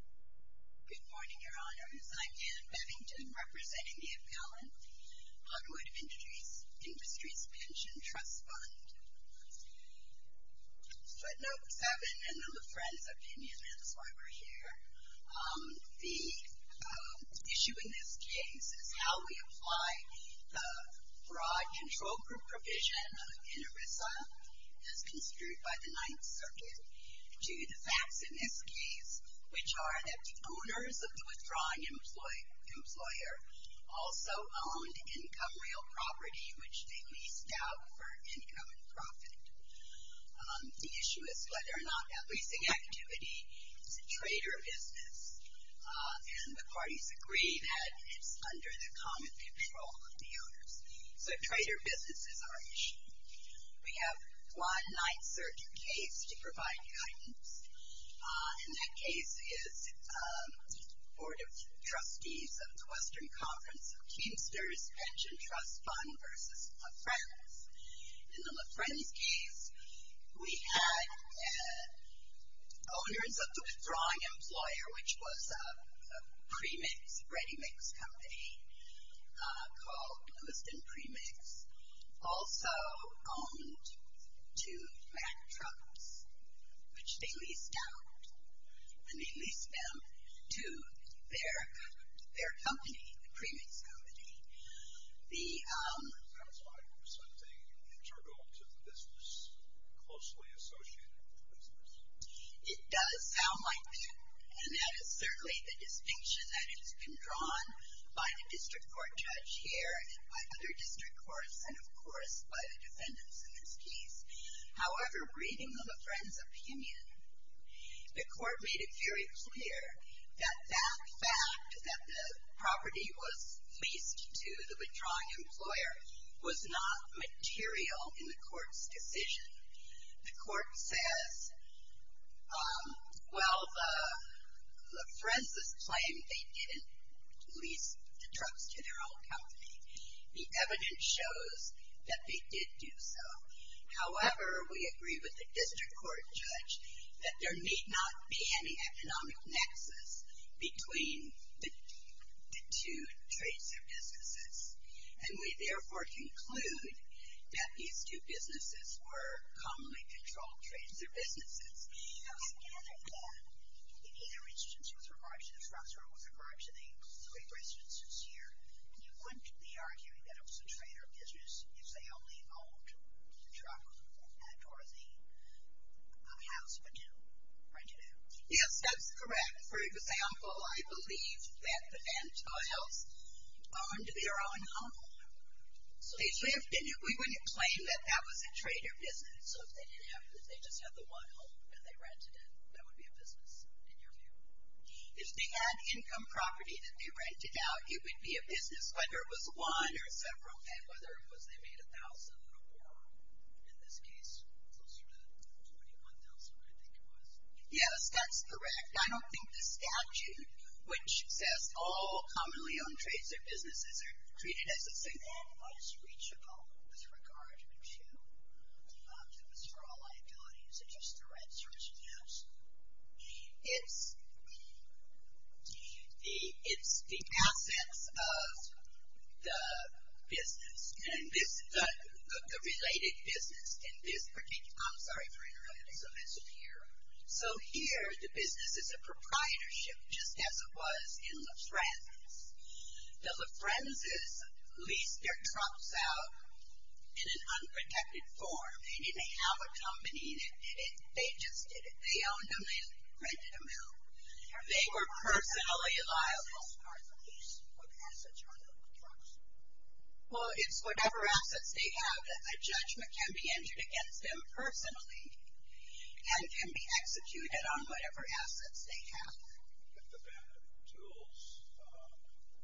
Good morning, Your Honors. I'm Anne Bevington, representing the Appellant on Wood Industries Pension Trust Fund. Footnote 7, and I'm a friend of Damien Answeiber here. The issue in this case is how we apply the broad control group provision in ERISA, as considered by the Ninth Circuit, to the facts in this case, which are that the owners of the withdrawing employer also owned income real property, which they leased out for income and profit. The issue is whether or not that leasing activity is a trade or a business, and the parties agree that it's under the common control of the owners. So trade or business is our issue. We have one Ninth Circuit case to provide guidance, and that case is Board of Trustees of the Western Conference of Teamsters Pension Trust Fund v. LaFrance. In the LaFrance case, we had owners of the withdrawing employer, which was a premix, ready-mix company called Lewiston Premix. Also owned two black trucks, which they leased out, and they leased them to their company, the premix company. The- It sounds like it was something internal to the business, closely associated with the business. It does sound like that, and that is certainly the distinction that has been drawn by the district court judge here and by other district courts and, of course, by the defendants in this case. However, reading LaFrance's opinion, the court made it very clear that that fact, that the property was leased to the withdrawing employer, was not material in the court's decision. The court says, well, LaFrance's claim they didn't lease the trucks to their own company. The evidence shows that they did do so. However, we agree with the district court judge that there need not be any economic nexus between the two trades or businesses. And we, therefore, conclude that these two businesses were commonly controlled trades or businesses. I gather that in either instance with regard to LaFrance or with regard to the three residences here, you wouldn't be arguing that it was a trade or business if they only owned the truck or the house, would you? Right, you do? Yes, that's correct. For example, I believe that the Van Tuyls owned their own home. We wouldn't claim that that was a trade or business. So, if they just had the one home that they rented it, that would be a business in your view? If they had income property that they rented out, it would be a business, whether it was one or several, and whether it was they made $1,000 or more. In this case, closer to $21,000, I think it was. Yes, that's correct. And I don't think the statute, which says all commonly owned trades or businesses are treated as the same. And what is reachable with regard to this overall liability? Is it just the right source of cash? It's the assets of the business. The related business in this particular, I'm sorry for interrupting. So, it's here. So, here the business is a proprietorship, just as it was in LaFrenz's. The LaFrenz's leased their trucks out in an unprotected form. They didn't have a company. They just did it. They owned them. They rented them out. They were personally liable. Well, it's whatever assets they have that a judgment can be entered against them personally and can be executed on whatever assets they have. If the bad tools,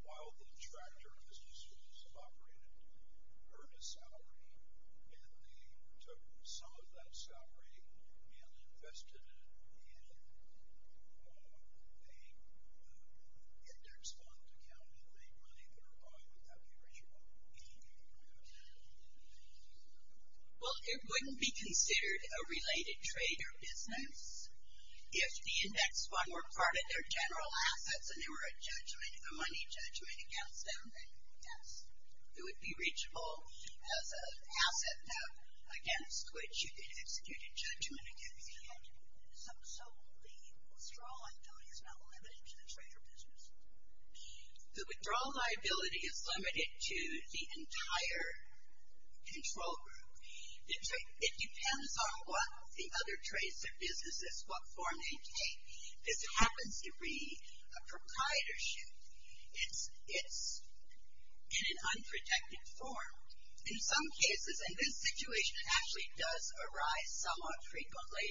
while the contractor of the business was operated, earned a salary and they took some of that salary and invested it in a index fund, can they make money thereby without being reachable? Well, it wouldn't be considered a related trade or business if the index fund were part of their general assets and there were a judgment, a money judgment against them. Yes. It would be reachable as an asset now against which you could execute a judgment against it. So, the withdrawal liability is not limited to the trade or business? The withdrawal liability is limited to the entire control group. It depends on what the other trades or businesses, what form they take. This happens to be a proprietorship. It's in an unprotected form. In some cases, and this situation actually does arise somewhat frequently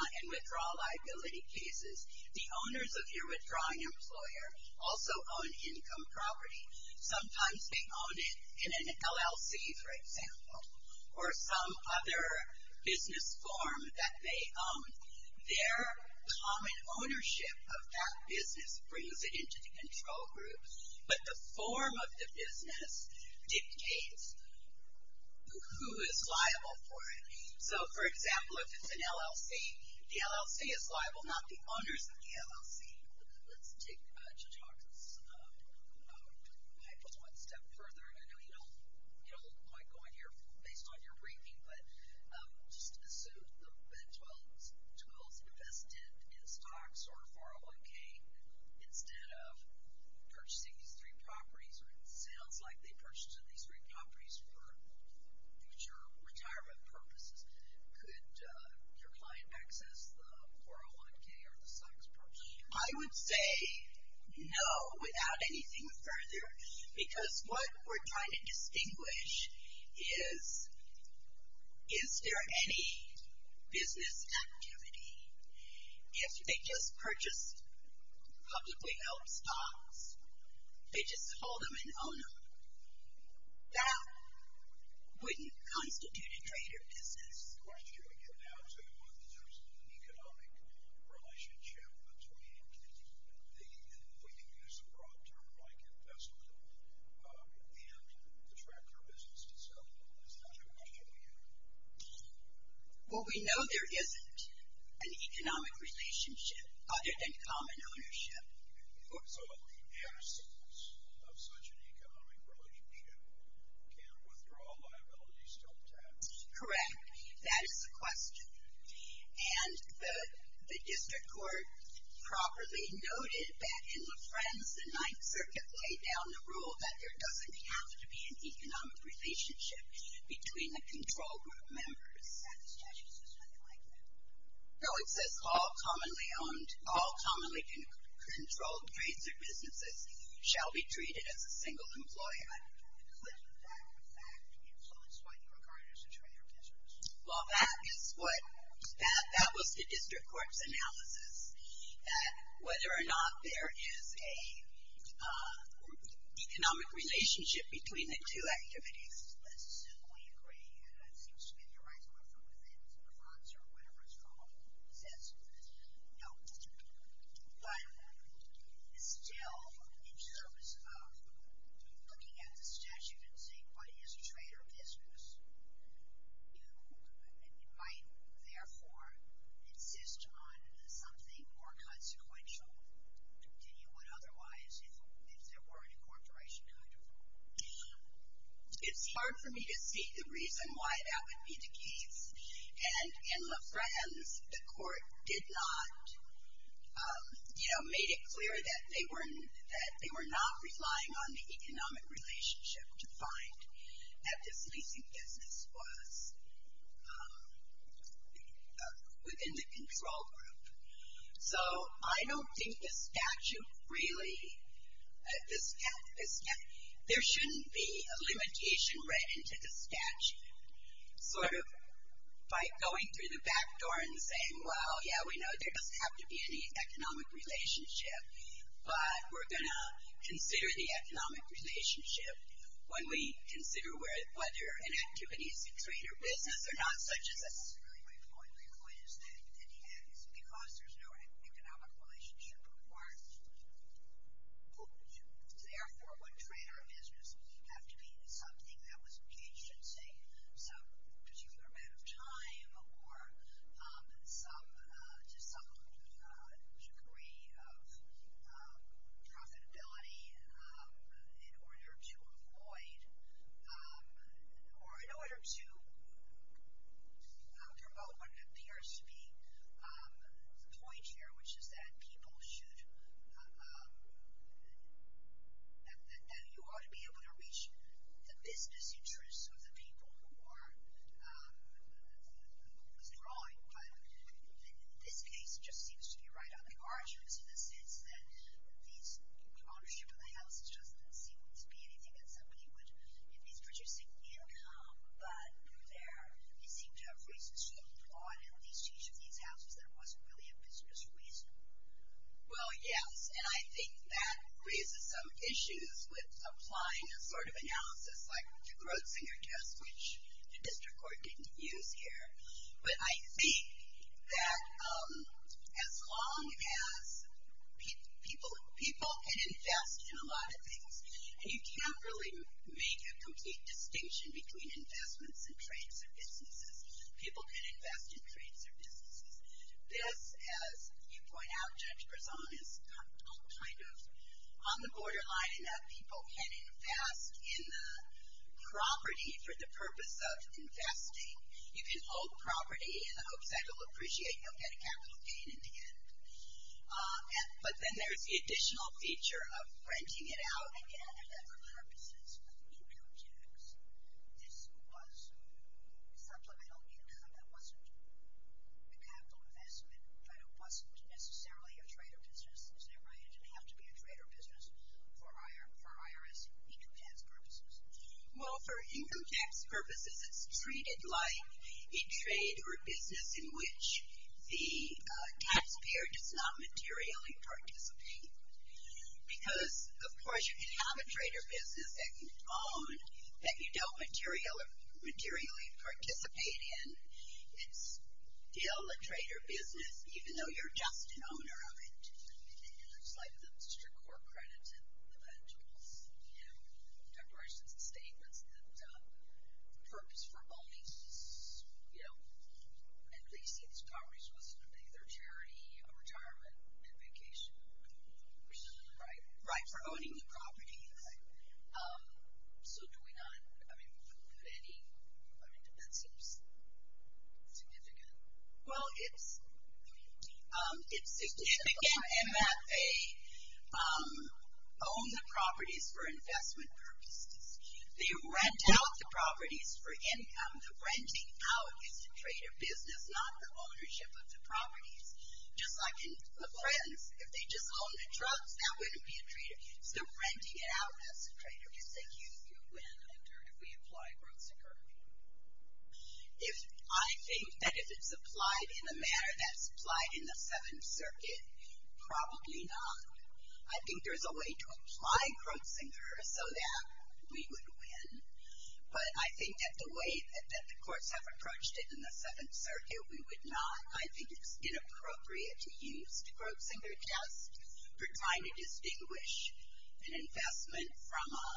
in withdrawal liability cases. The owners of your withdrawing employer also own income property. Sometimes they own it in an LLC, for example, or some other business form that they own. Their common ownership of that business brings it into the control group. But the form of the business dictates who is liable for it. So, for example, if it's an LLC, the LLC is liable, not the owners of the LLC. Let's take Judge Hawkins' hypothesis one step further, and I know you don't like going here based on your briefing, but just assume that 12s invested in stocks or 401K instead of purchasing these three properties, or it sounds like they purchased these three properties for future retirement purposes. Could your client access the 401K or the stocks purchased? I would say no, without anything further, because what we're trying to distinguish is, is there any business activity? If they just purchased publicly held stocks, they just sold them and owned them. That wouldn't constitute a trader business. The question we get now is whether there's an economic relationship between the, and we can use the broad term, like investment, and the tractor business itself. Is that the question here? Well, we know there isn't an economic relationship other than common ownership. So, the absence of such an economic relationship can withdraw liabilities to a tax? Correct. That is the question. And the district court properly noted that in Lafrenze, the Ninth Circuit laid down the rule that there doesn't have to be an economic relationship between the control group members. No, it says all commonly owned, all commonly controlled trades or businesses shall be treated as a single employer. Well, that is what, that was the district court's analysis, that whether or not there is an economic relationship between the two activities. I don't necessarily agree, and it seems to me that you're right to refer to it in Lafrenze or whatever it's called. It says no. But still, in terms of looking at the statute and saying, what is a trader business, you might therefore insist on something more consequential than you would otherwise if there were an incorporation contract. It's hard for me to see the reason why that would be the case. And in Lafrenze, the court did not, you know, made it clear that they were not relying on the economic relationship to find that this leasing business was within the control group. So, I don't think the statute really, there shouldn't be a limitation read into the statute. Sort of by going through the back door and saying, well, yeah, we know there doesn't have to be any economic relationship, but we're going to consider the economic relationship when we consider whether an activity is a trader business or not, such as a. My point is that it's because there's no economic relationship required. So, therefore, would trader business have to be something that was agency, some particular amount of time or just some degree of profitability in order to avoid or in order to promote what appears to be the point here, which is that people should, that you ought to be able to reach the business interests of the people who are withdrawing. But this case just seems to be right on the margins in the sense that the ownership of the house doesn't seem to be anything that somebody would, if he's producing income, but they seem to have reasons to hold on at least to each of these houses that it wasn't really a business reason. Well, yes, and I think that raises some issues with applying a sort of analysis like the Grodzinger test, which the district court didn't use here. But I think that as long as people can invest in a lot of things, and you can't really make a complete distinction between investments and trades or businesses. People can invest in trades or businesses. This, as you point out, Judge Prezone, is kind of on the borderline in that people can invest in the property for the purpose of investing. You can own the property in the hopes that it will appreciate, you'll get a capital gain in the end. But then there's the additional feature of renting it out and getting it for purposes of income tax. This was supplemental income. It wasn't a capital investment, but it wasn't necessarily a trade or business. Isn't that right? It didn't have to be a trade or business for IRS income tax purposes. Well, for income tax purposes, it's treated like a trade or a business in which the taxpayer does not materially participate. Because, of course, you can have a trade or business that you own that you don't materially participate in. It's still a trade or business, even though you're just an owner of it. It's like the district court credits and eventuals, declarations and statements that the purpose for owning and leasing these properties was to make their charity a retirement and vacation. Right. For owning the property. Right. So do we not put any – that seems significant. Well, it's significant in that they own the properties for investment purposes. They rent out the properties for income. The renting out is a trade or business, not the ownership of the properties. Just like in the present, if they just owned the drugs, that wouldn't be a trade. So renting it out, that's a trade or business. If we apply Grossinger? I think that if it's applied in a manner that's applied in the Seventh Circuit, probably not. I think there's a way to apply Grossinger so that we would win. But I think that the way that the courts have approached it in the Seventh Circuit, we would not. I think it's inappropriate to use the Grossinger test for trying to distinguish an investment from a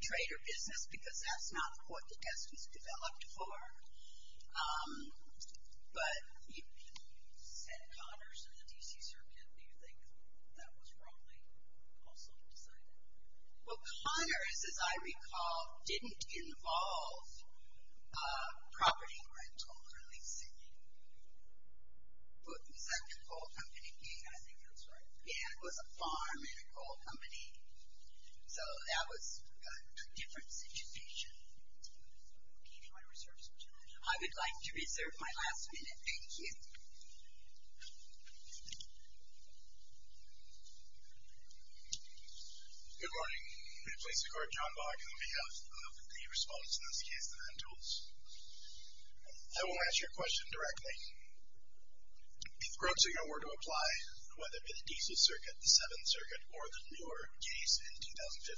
trade or business because that's not what the test was developed for. But you said Connors in the D.C. Circuit. Do you think that was wrongly also decided? Well, Connors, as I recall, didn't involve property rental or leasing. Was that the whole company? Yeah, I think that's right. Yeah, it was a farm and a coal company. So that was a different situation. Okay. Do you want to reserve some time? I would like to reserve my last minute. Thank you. Good morning. I'm going to place the court, John Bogg, on behalf of the respondents in this case, the Huntools. I will ask you a question directly. If Grossinger were to apply, whether it be the D.C. Circuit, the Seventh Circuit, or the newer case in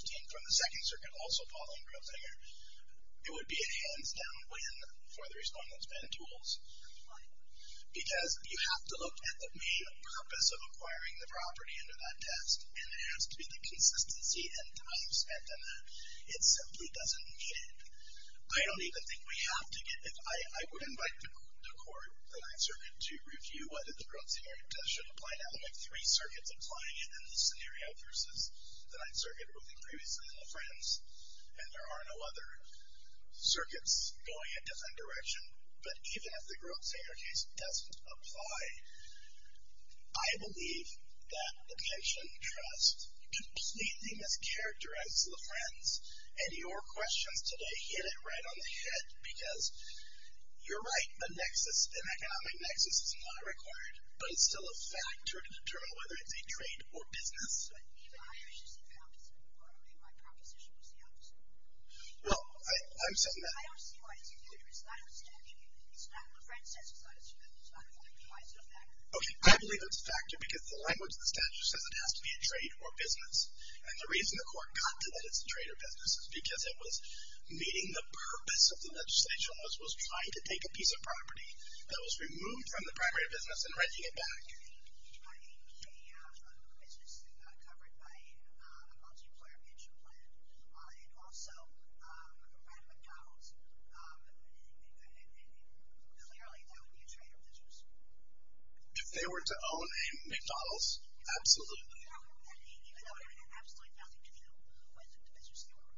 2015 from the Second Circuit, also Pauline Grossinger, it would be a hands-down win for the respondents, Huntools. Why? Because you have to look at the main purpose of acquiring the property under that test, and it has to be the consistency and time spent in that. It simply doesn't need it. I don't even think we have to get it. I would invite the court, the Ninth Circuit, to review whether the Grossinger case should apply. Now, there are three circuits applying it in this scenario versus the Ninth Circuit ruling previously and the Friends, and there are no other circuits going a different direction. But even if the Grossinger case doesn't apply, I believe that the pension trust completely mischaracterized the Friends, and your questions today hit it right on the head, because you're right. An economic nexus is not required, but it's still a factor to determine whether it's a trade or business. Even higher is just the opposite. I don't think my proposition was the opposite. Well, I'm saying that... I don't see why it's a factor. It's not a statute. It's not what Friends says it's not a statute. It's not a fact. Why is it a factor? Okay, I believe it's a factor because the language of the statute says it has to be a trade or business, and the reason the court got to that it's a trade or business is because it was meeting the purpose of the legislation, which was trying to take a piece of property that was removed from the primary business and renting it back. If they have a business covered by a multi-employer pension plan and also ran a McDonald's, clearly that would be a trade or business. If they were to own a McDonald's, absolutely. Absolutely.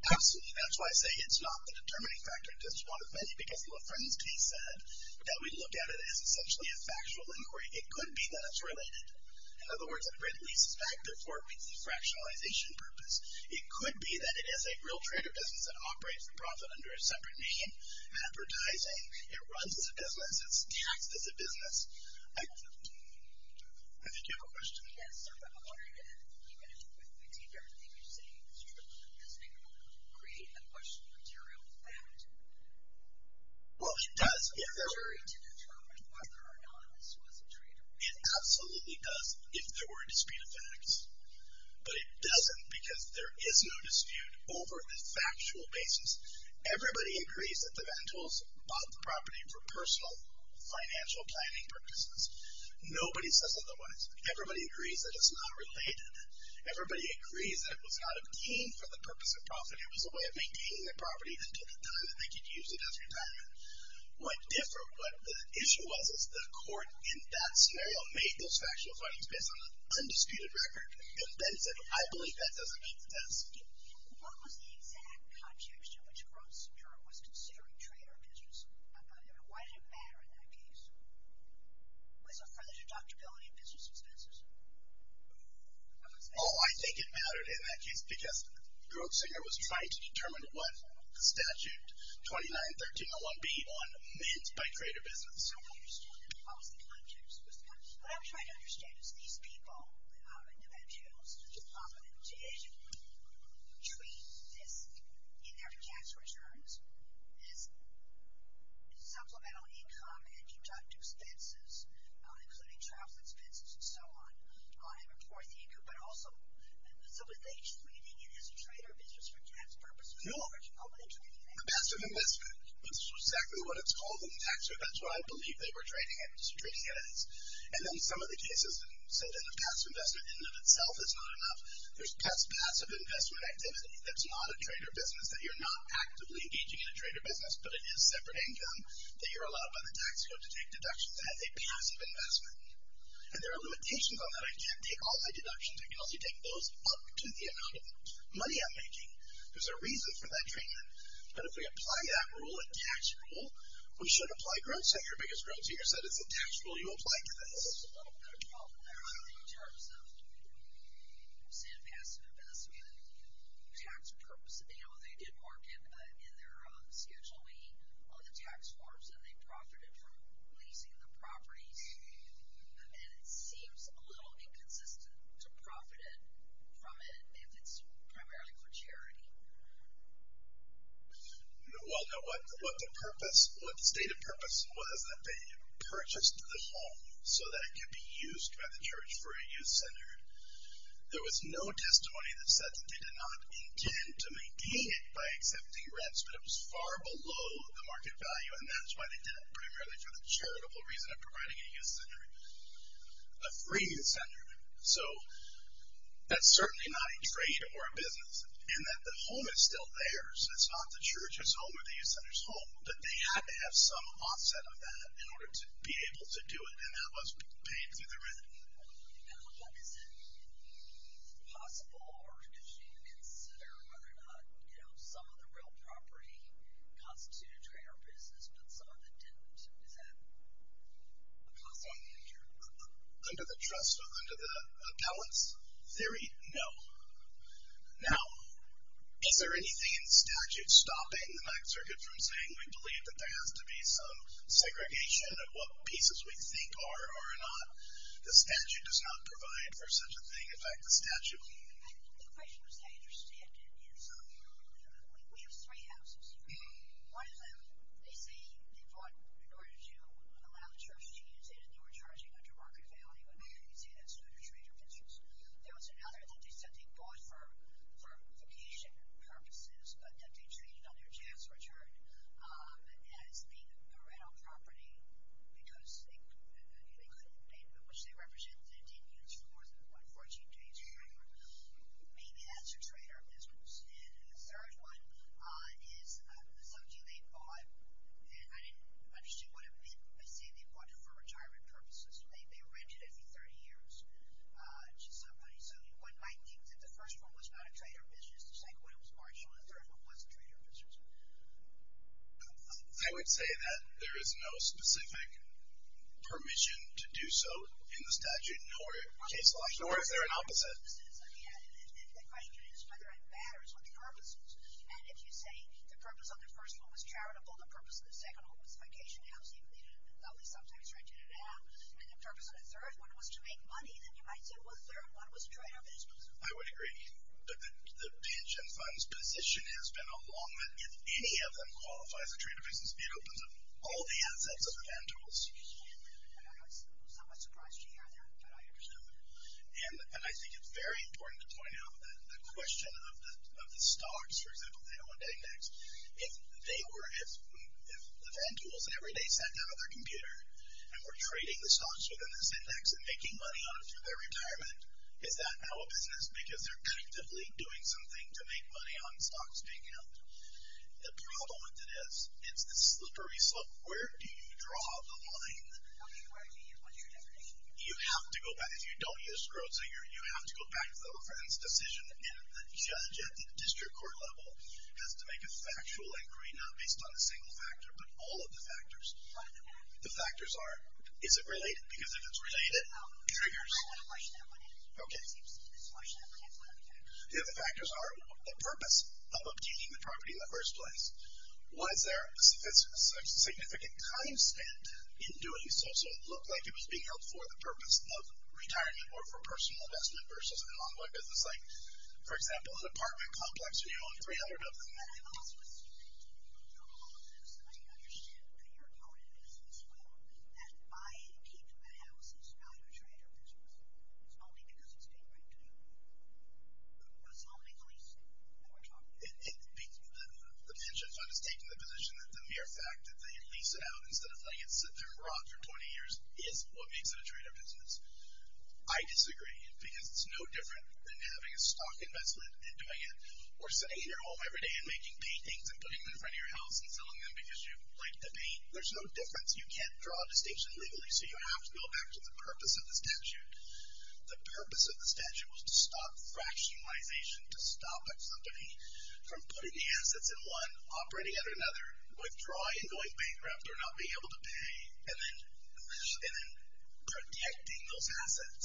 Absolutely. That's why I say it's not the determining factor, just one of many, because what Friends case said, that we looked at it as essentially a factual inquiry. It could be that it's related. In other words, a rent lease is a factor for a fractionalization purpose. It could be that it is a real trade or business that operates for profit under a separate name, advertising. It runs as a business. It's taxed as a business. I think you have a question. Yes, sir. I'm wondering if, even if we take everything you're saying as true, does it create a question of material fact? Well, it does. It's a jury to determine whether or not this was a trade or business. It absolutely does if there were a dispute of facts, but it doesn't because there is no dispute over the factual basis. Everybody agrees that the rentals bought the property for personal financial planning purposes. Nobody says otherwise. Everybody agrees that it's not related. Everybody agrees that it was not obtained for the purpose of profit. It was a way of maintaining the property until the time that they could use it as retirement. What the issue was is the court in that scenario made those factual findings based on an undisputed record and then said, I believe that doesn't meet the test. I'm just asking, what was the exact context in which Grosinger was considering trade or business? Why did it matter in that case? Was it for the deductibility of business expenses? Oh, I think it mattered in that case because Grosinger was trying to determine what the statute 2913-01B meant by trade or business. I don't understand it. What was the context? What I'm trying to understand is these people, these individuals, did trade this in their tax returns, this supplemental income and deductible expenses, including travel expenses and so on, on a poor thinker. But also, so was they trading it as a trade or business for tax purposes? No. Oh, but they traded it. A passive investment. That's exactly what it's called in the tax code. That's what I believe they were trading it as. And then some of the cases say that a passive investment in and of itself is not enough. There's passive investment activity that's not a trade or business, that you're not actively engaging in a trade or business, but it is separate income, that you're allowed by the tax code to take deductions. That's a passive investment. And there are limitations on that. I can't take all my deductions. I can only take those up to the amount of money I'm making. There's a reason for that treatment. But if we apply that rule, a tax rule, we should apply Grosinger because Grosinger said that's a tax rule you apply to this. Well, in terms of, say, a passive investment, tax purpose, you know, they did market in their Schedule E on the tax forms and they profited from leasing the properties. And it seems a little inconsistent to profit from it if it's primarily for charity. Well, no. What the purpose, what the stated purpose was was that they purchased the home so that it could be used by the church for a youth center. There was no testimony that said that they did not intend to maintain it by accepting rents, but it was far below the market value, and that's why they did it, primarily for the charitable reason of providing a youth center, a free youth center. So that's certainly not a trade or a business in that the home is still theirs. It's not the church's home or the youth center's home, but they had to have some offset of that in order to be able to do it, and that was paid through the rent. Now, what does it mean if it's possible, or if you consider whether or not, you know, some of the real property constituted trade or business, but some of it didn't? Is that possible? Under the trust or under the balance theory, no. Now, is there anything in statute stopping the Ninth Circuit from saying we believe that there has to be some segregation of what pieces we think are or are not? The statute does not provide for such a thing. In fact, the statute... The question was how you understand it. We have three houses. One of them, they say they bought in order to allow the church to use it, and they were charging under market value, and you can see that's true for trade or business. There was another that they said they bought for vacation purposes, but that they traded on their chance return as being a rental property because they couldn't pay, which they represented, and didn't use for 14 days or whatever. Maybe that's a trade or business. And the third one is something they bought, and I didn't understand what it meant by saying they bought it for retirement purposes. They rented it for 30 years to somebody, so one might think that the first one was not a trade or business, the second one was marginal, and the third one was trade or business. I would say that there is no specific permission to do so in the statute, nor is there an opposite. Yeah, and the question is whether it matters what the purpose is. And if you say the purpose of the first one was charitable, the purpose of the second one was vacation housing, at least sometimes they rented it out, and the purpose of the third one was to make money, then you might say, well, the third one was trade or business. I would agree. But the pension fund's position has been a long one. If any of them qualifies for trade or business, it opens up all the assets of the Ventools. And I was somewhat surprised to hear that, but I understand that. And I think it's very important to point out that the question of the stocks, for example, the L&A index, if the Ventools every day sat down at their computer and were trading the stocks within this index and making money on it for their retirement, is that now a business? Because they're actively doing something to make money on stocks being held. The problem with it is, it's a slippery slope. Where do you draw the line? Okay, where do you use what you're doing? You have to go back. If you don't use Scrotinger, you have to go back to the reference decision, and the judge at the district court level has to make a factual inquiry, not based on a single factor, but all of the factors. What are the factors? The factors are, is it related? Because if it's related, it triggers. Okay. The other factors are, the purpose of obtaining the property in the first place. Was there a significant time spent in doing so, so it looked like it was being held for the purpose of retirement or for personal investment versus an ongoing business like, for example, an apartment complex, where you own 300 of them. It's only because it's a great deal. It's only the lease. The pension fund has taken the position that the mere fact that they lease it out instead of letting it sit there and rot for 20 years is what makes it a trader business. I disagree, because it's no different than having a stock investment and doing it, or sitting here at home every day and making paintings and putting them in front of your house and selling them because you like to paint. There's no difference. You can't draw a distinction legally, so you have to go back to the purpose of the statute. The purpose of the statute was to stop fractionalization, to stop a company from putting the assets in one, operating under another, withdrawing and going bankrupt or not being able to pay, and then protecting those assets,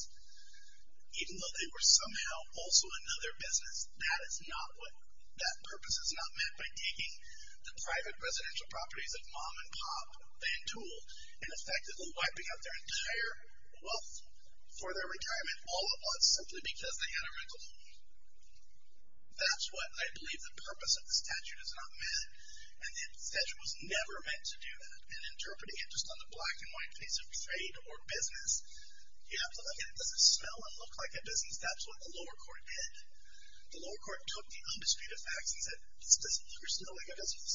even though they were somehow also another business. That is not what, that purpose is not met by taking the private residential properties of mom and pop, Van Toole, and effectively wiping out their entire wealth for their retirement all at once, simply because they had a rental home. That's what I believe the purpose of the statute is not met, and the statute was never meant to do that. And interpreting it just on the black and white face of trade or business, you have to look at it. Does it smell and look like a business? That's what the lower court did. The lower court took the undisputed facts and said, this doesn't look or smell like a business.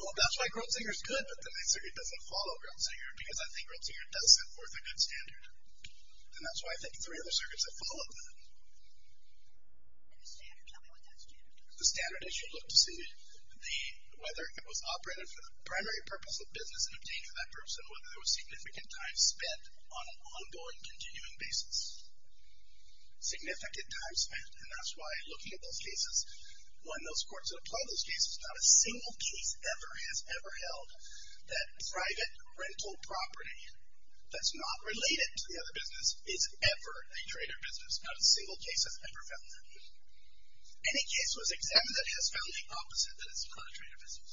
Well, that's why Grubzinger's good, but the main circuit doesn't follow Grubzinger, because I think Grubzinger doesn't set forth a good standard. And that's why I think three other circuits have followed that. The standard issue looked to see whether it was operated for the primary purpose of business and obtained for that person, whether there was significant time spent on an ongoing, continuing basis. Significant time spent, and that's why looking at those cases, one of those courts that applied those cases, not a single case ever has ever held that private rental property that's not related to the other business is ever a trade or business. Not a single case has ever found that. Any case that was examined that has found the opposite, that it's not a trade or business.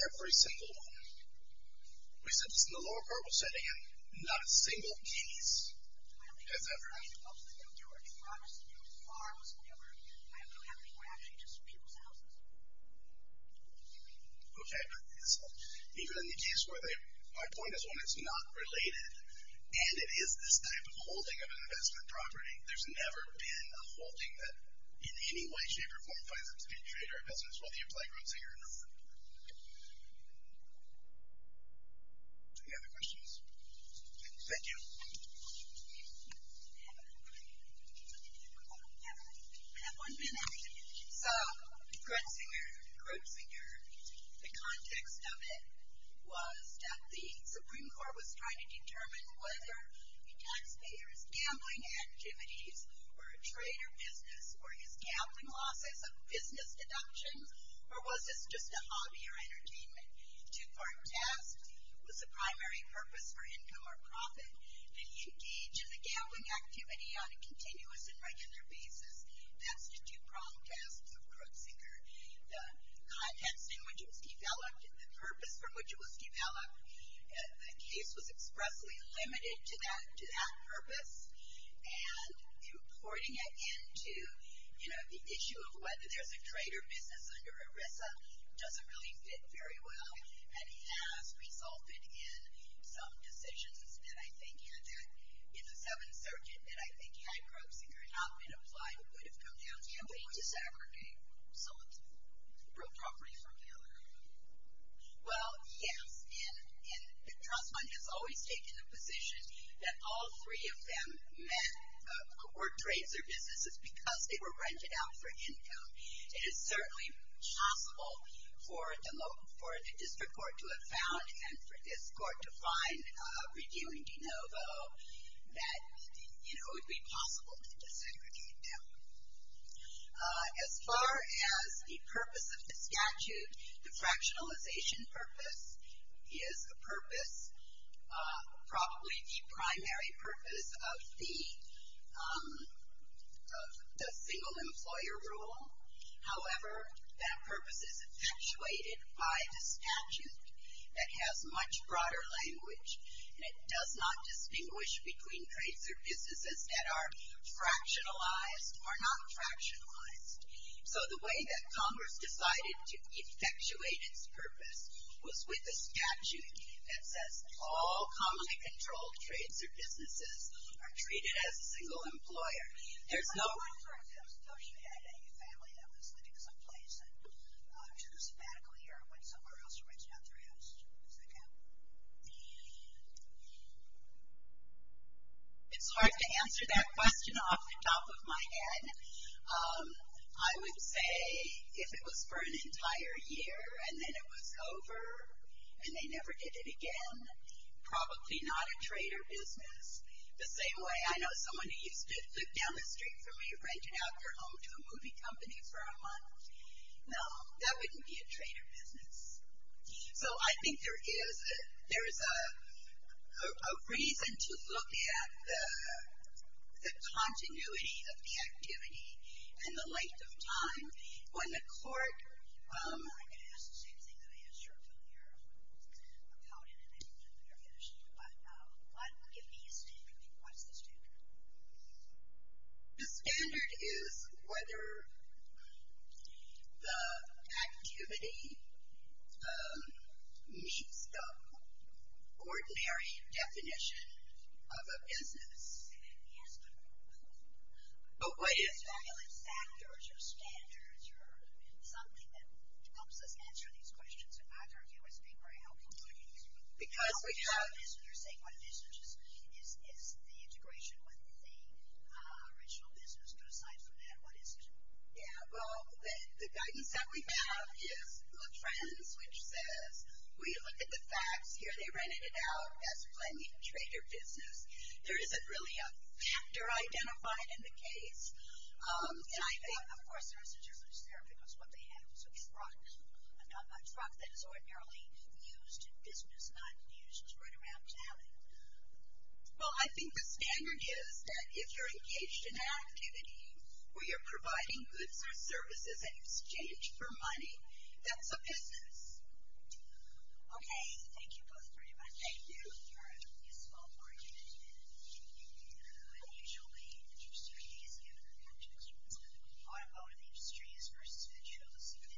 Every single one. We said this in the lower court, we said again, not a single case has ever held that there was a promise to do with farms, or whatever, I don't have anywhere, actually just people's houses. Okay, but even in the case where they, my point is when it's not related, and it is this type of holding of an investment property, there's never been a holding that in any way, shape, or form finds it to be a trade or a business, whether you apply Grubzinger or not. Any other questions? Thank you. I have one minute. So Grubzinger, the context of it was that the Supreme Court was trying to determine whether a taxpayer's gambling activities were a trade or business, or his gambling losses, a business deduction, or was this just a hobby or entertainment. Two-part test was the primary purpose for income or profit. Did he engage in the gambling activity on a continuous and regular basis? That's the two-part test of Grubzinger. The context in which it was developed, the purpose from which it was developed, the case was expressly limited to that purpose, and importing it into the issue of whether there's a trade or business under ERISA doesn't really fit very well, and has resulted in some decisions that I think had that, in the Seventh Circuit, that I think had Grubzinger not been applied would have come down to gambling disaggregate. So it's appropriate for gambling. Well, yes, and the trust fund has always taken the position that all three of them met were trades or businesses because they were rented out for income. It is certainly possible for the district court to have found and for this court to find reviewing de novo that it would be possible to disaggregate them. As far as the purpose of the statute, the fractionalization purpose is a purpose, probably the primary purpose of the single-employer rule. However, that purpose is effectuated by the statute that has much broader language, and it does not distinguish between trades or businesses that are fractionalized or not fractionalized. So the way that Congress decided to effectuate its purpose was with a statute that says all commonly controlled trades or businesses are treated as a single employer. There's no... Any other questions? It's hard to answer that question off the top of my head. I would say if it was for an entire year and then it was over and they never did it again, probably not a trade or business. The same way I know someone who used to live down the street from me renting out their home to a movie company for a month. No, that wouldn't be a trade or business. So I think there is a reason to look at the continuity of the activity and the length of time. When the court... I'm going to ask the same thing that I asked you when you're counted and then you're finished. But give me a standard. What's the standard? The standard is whether the activity meets the ordinary definition of a business. Yes, but... Oh, wait a second. Do you have like factors or standards or something that helps us answer these questions? In my point of view, I think we're helping communities. Because we have... What's the original business? But aside from that, what is it? Yeah, well, the guidance that we have is the trends, which says we look at the facts. Here they rented it out as a planned trade or business. There isn't really a factor identified in the case. And I think... Of course, there is a difference there because what they have is a truck. A truck that is ordinarily used in business, not used right around town. Well, I think the standard is that if you're engaged in an activity where you're providing goods or services in exchange for money, that's a business. Okay, thank you both very much. Thank you. You're a small market. And usually, interest rates, given the fact that automotive industry is versus fiducials,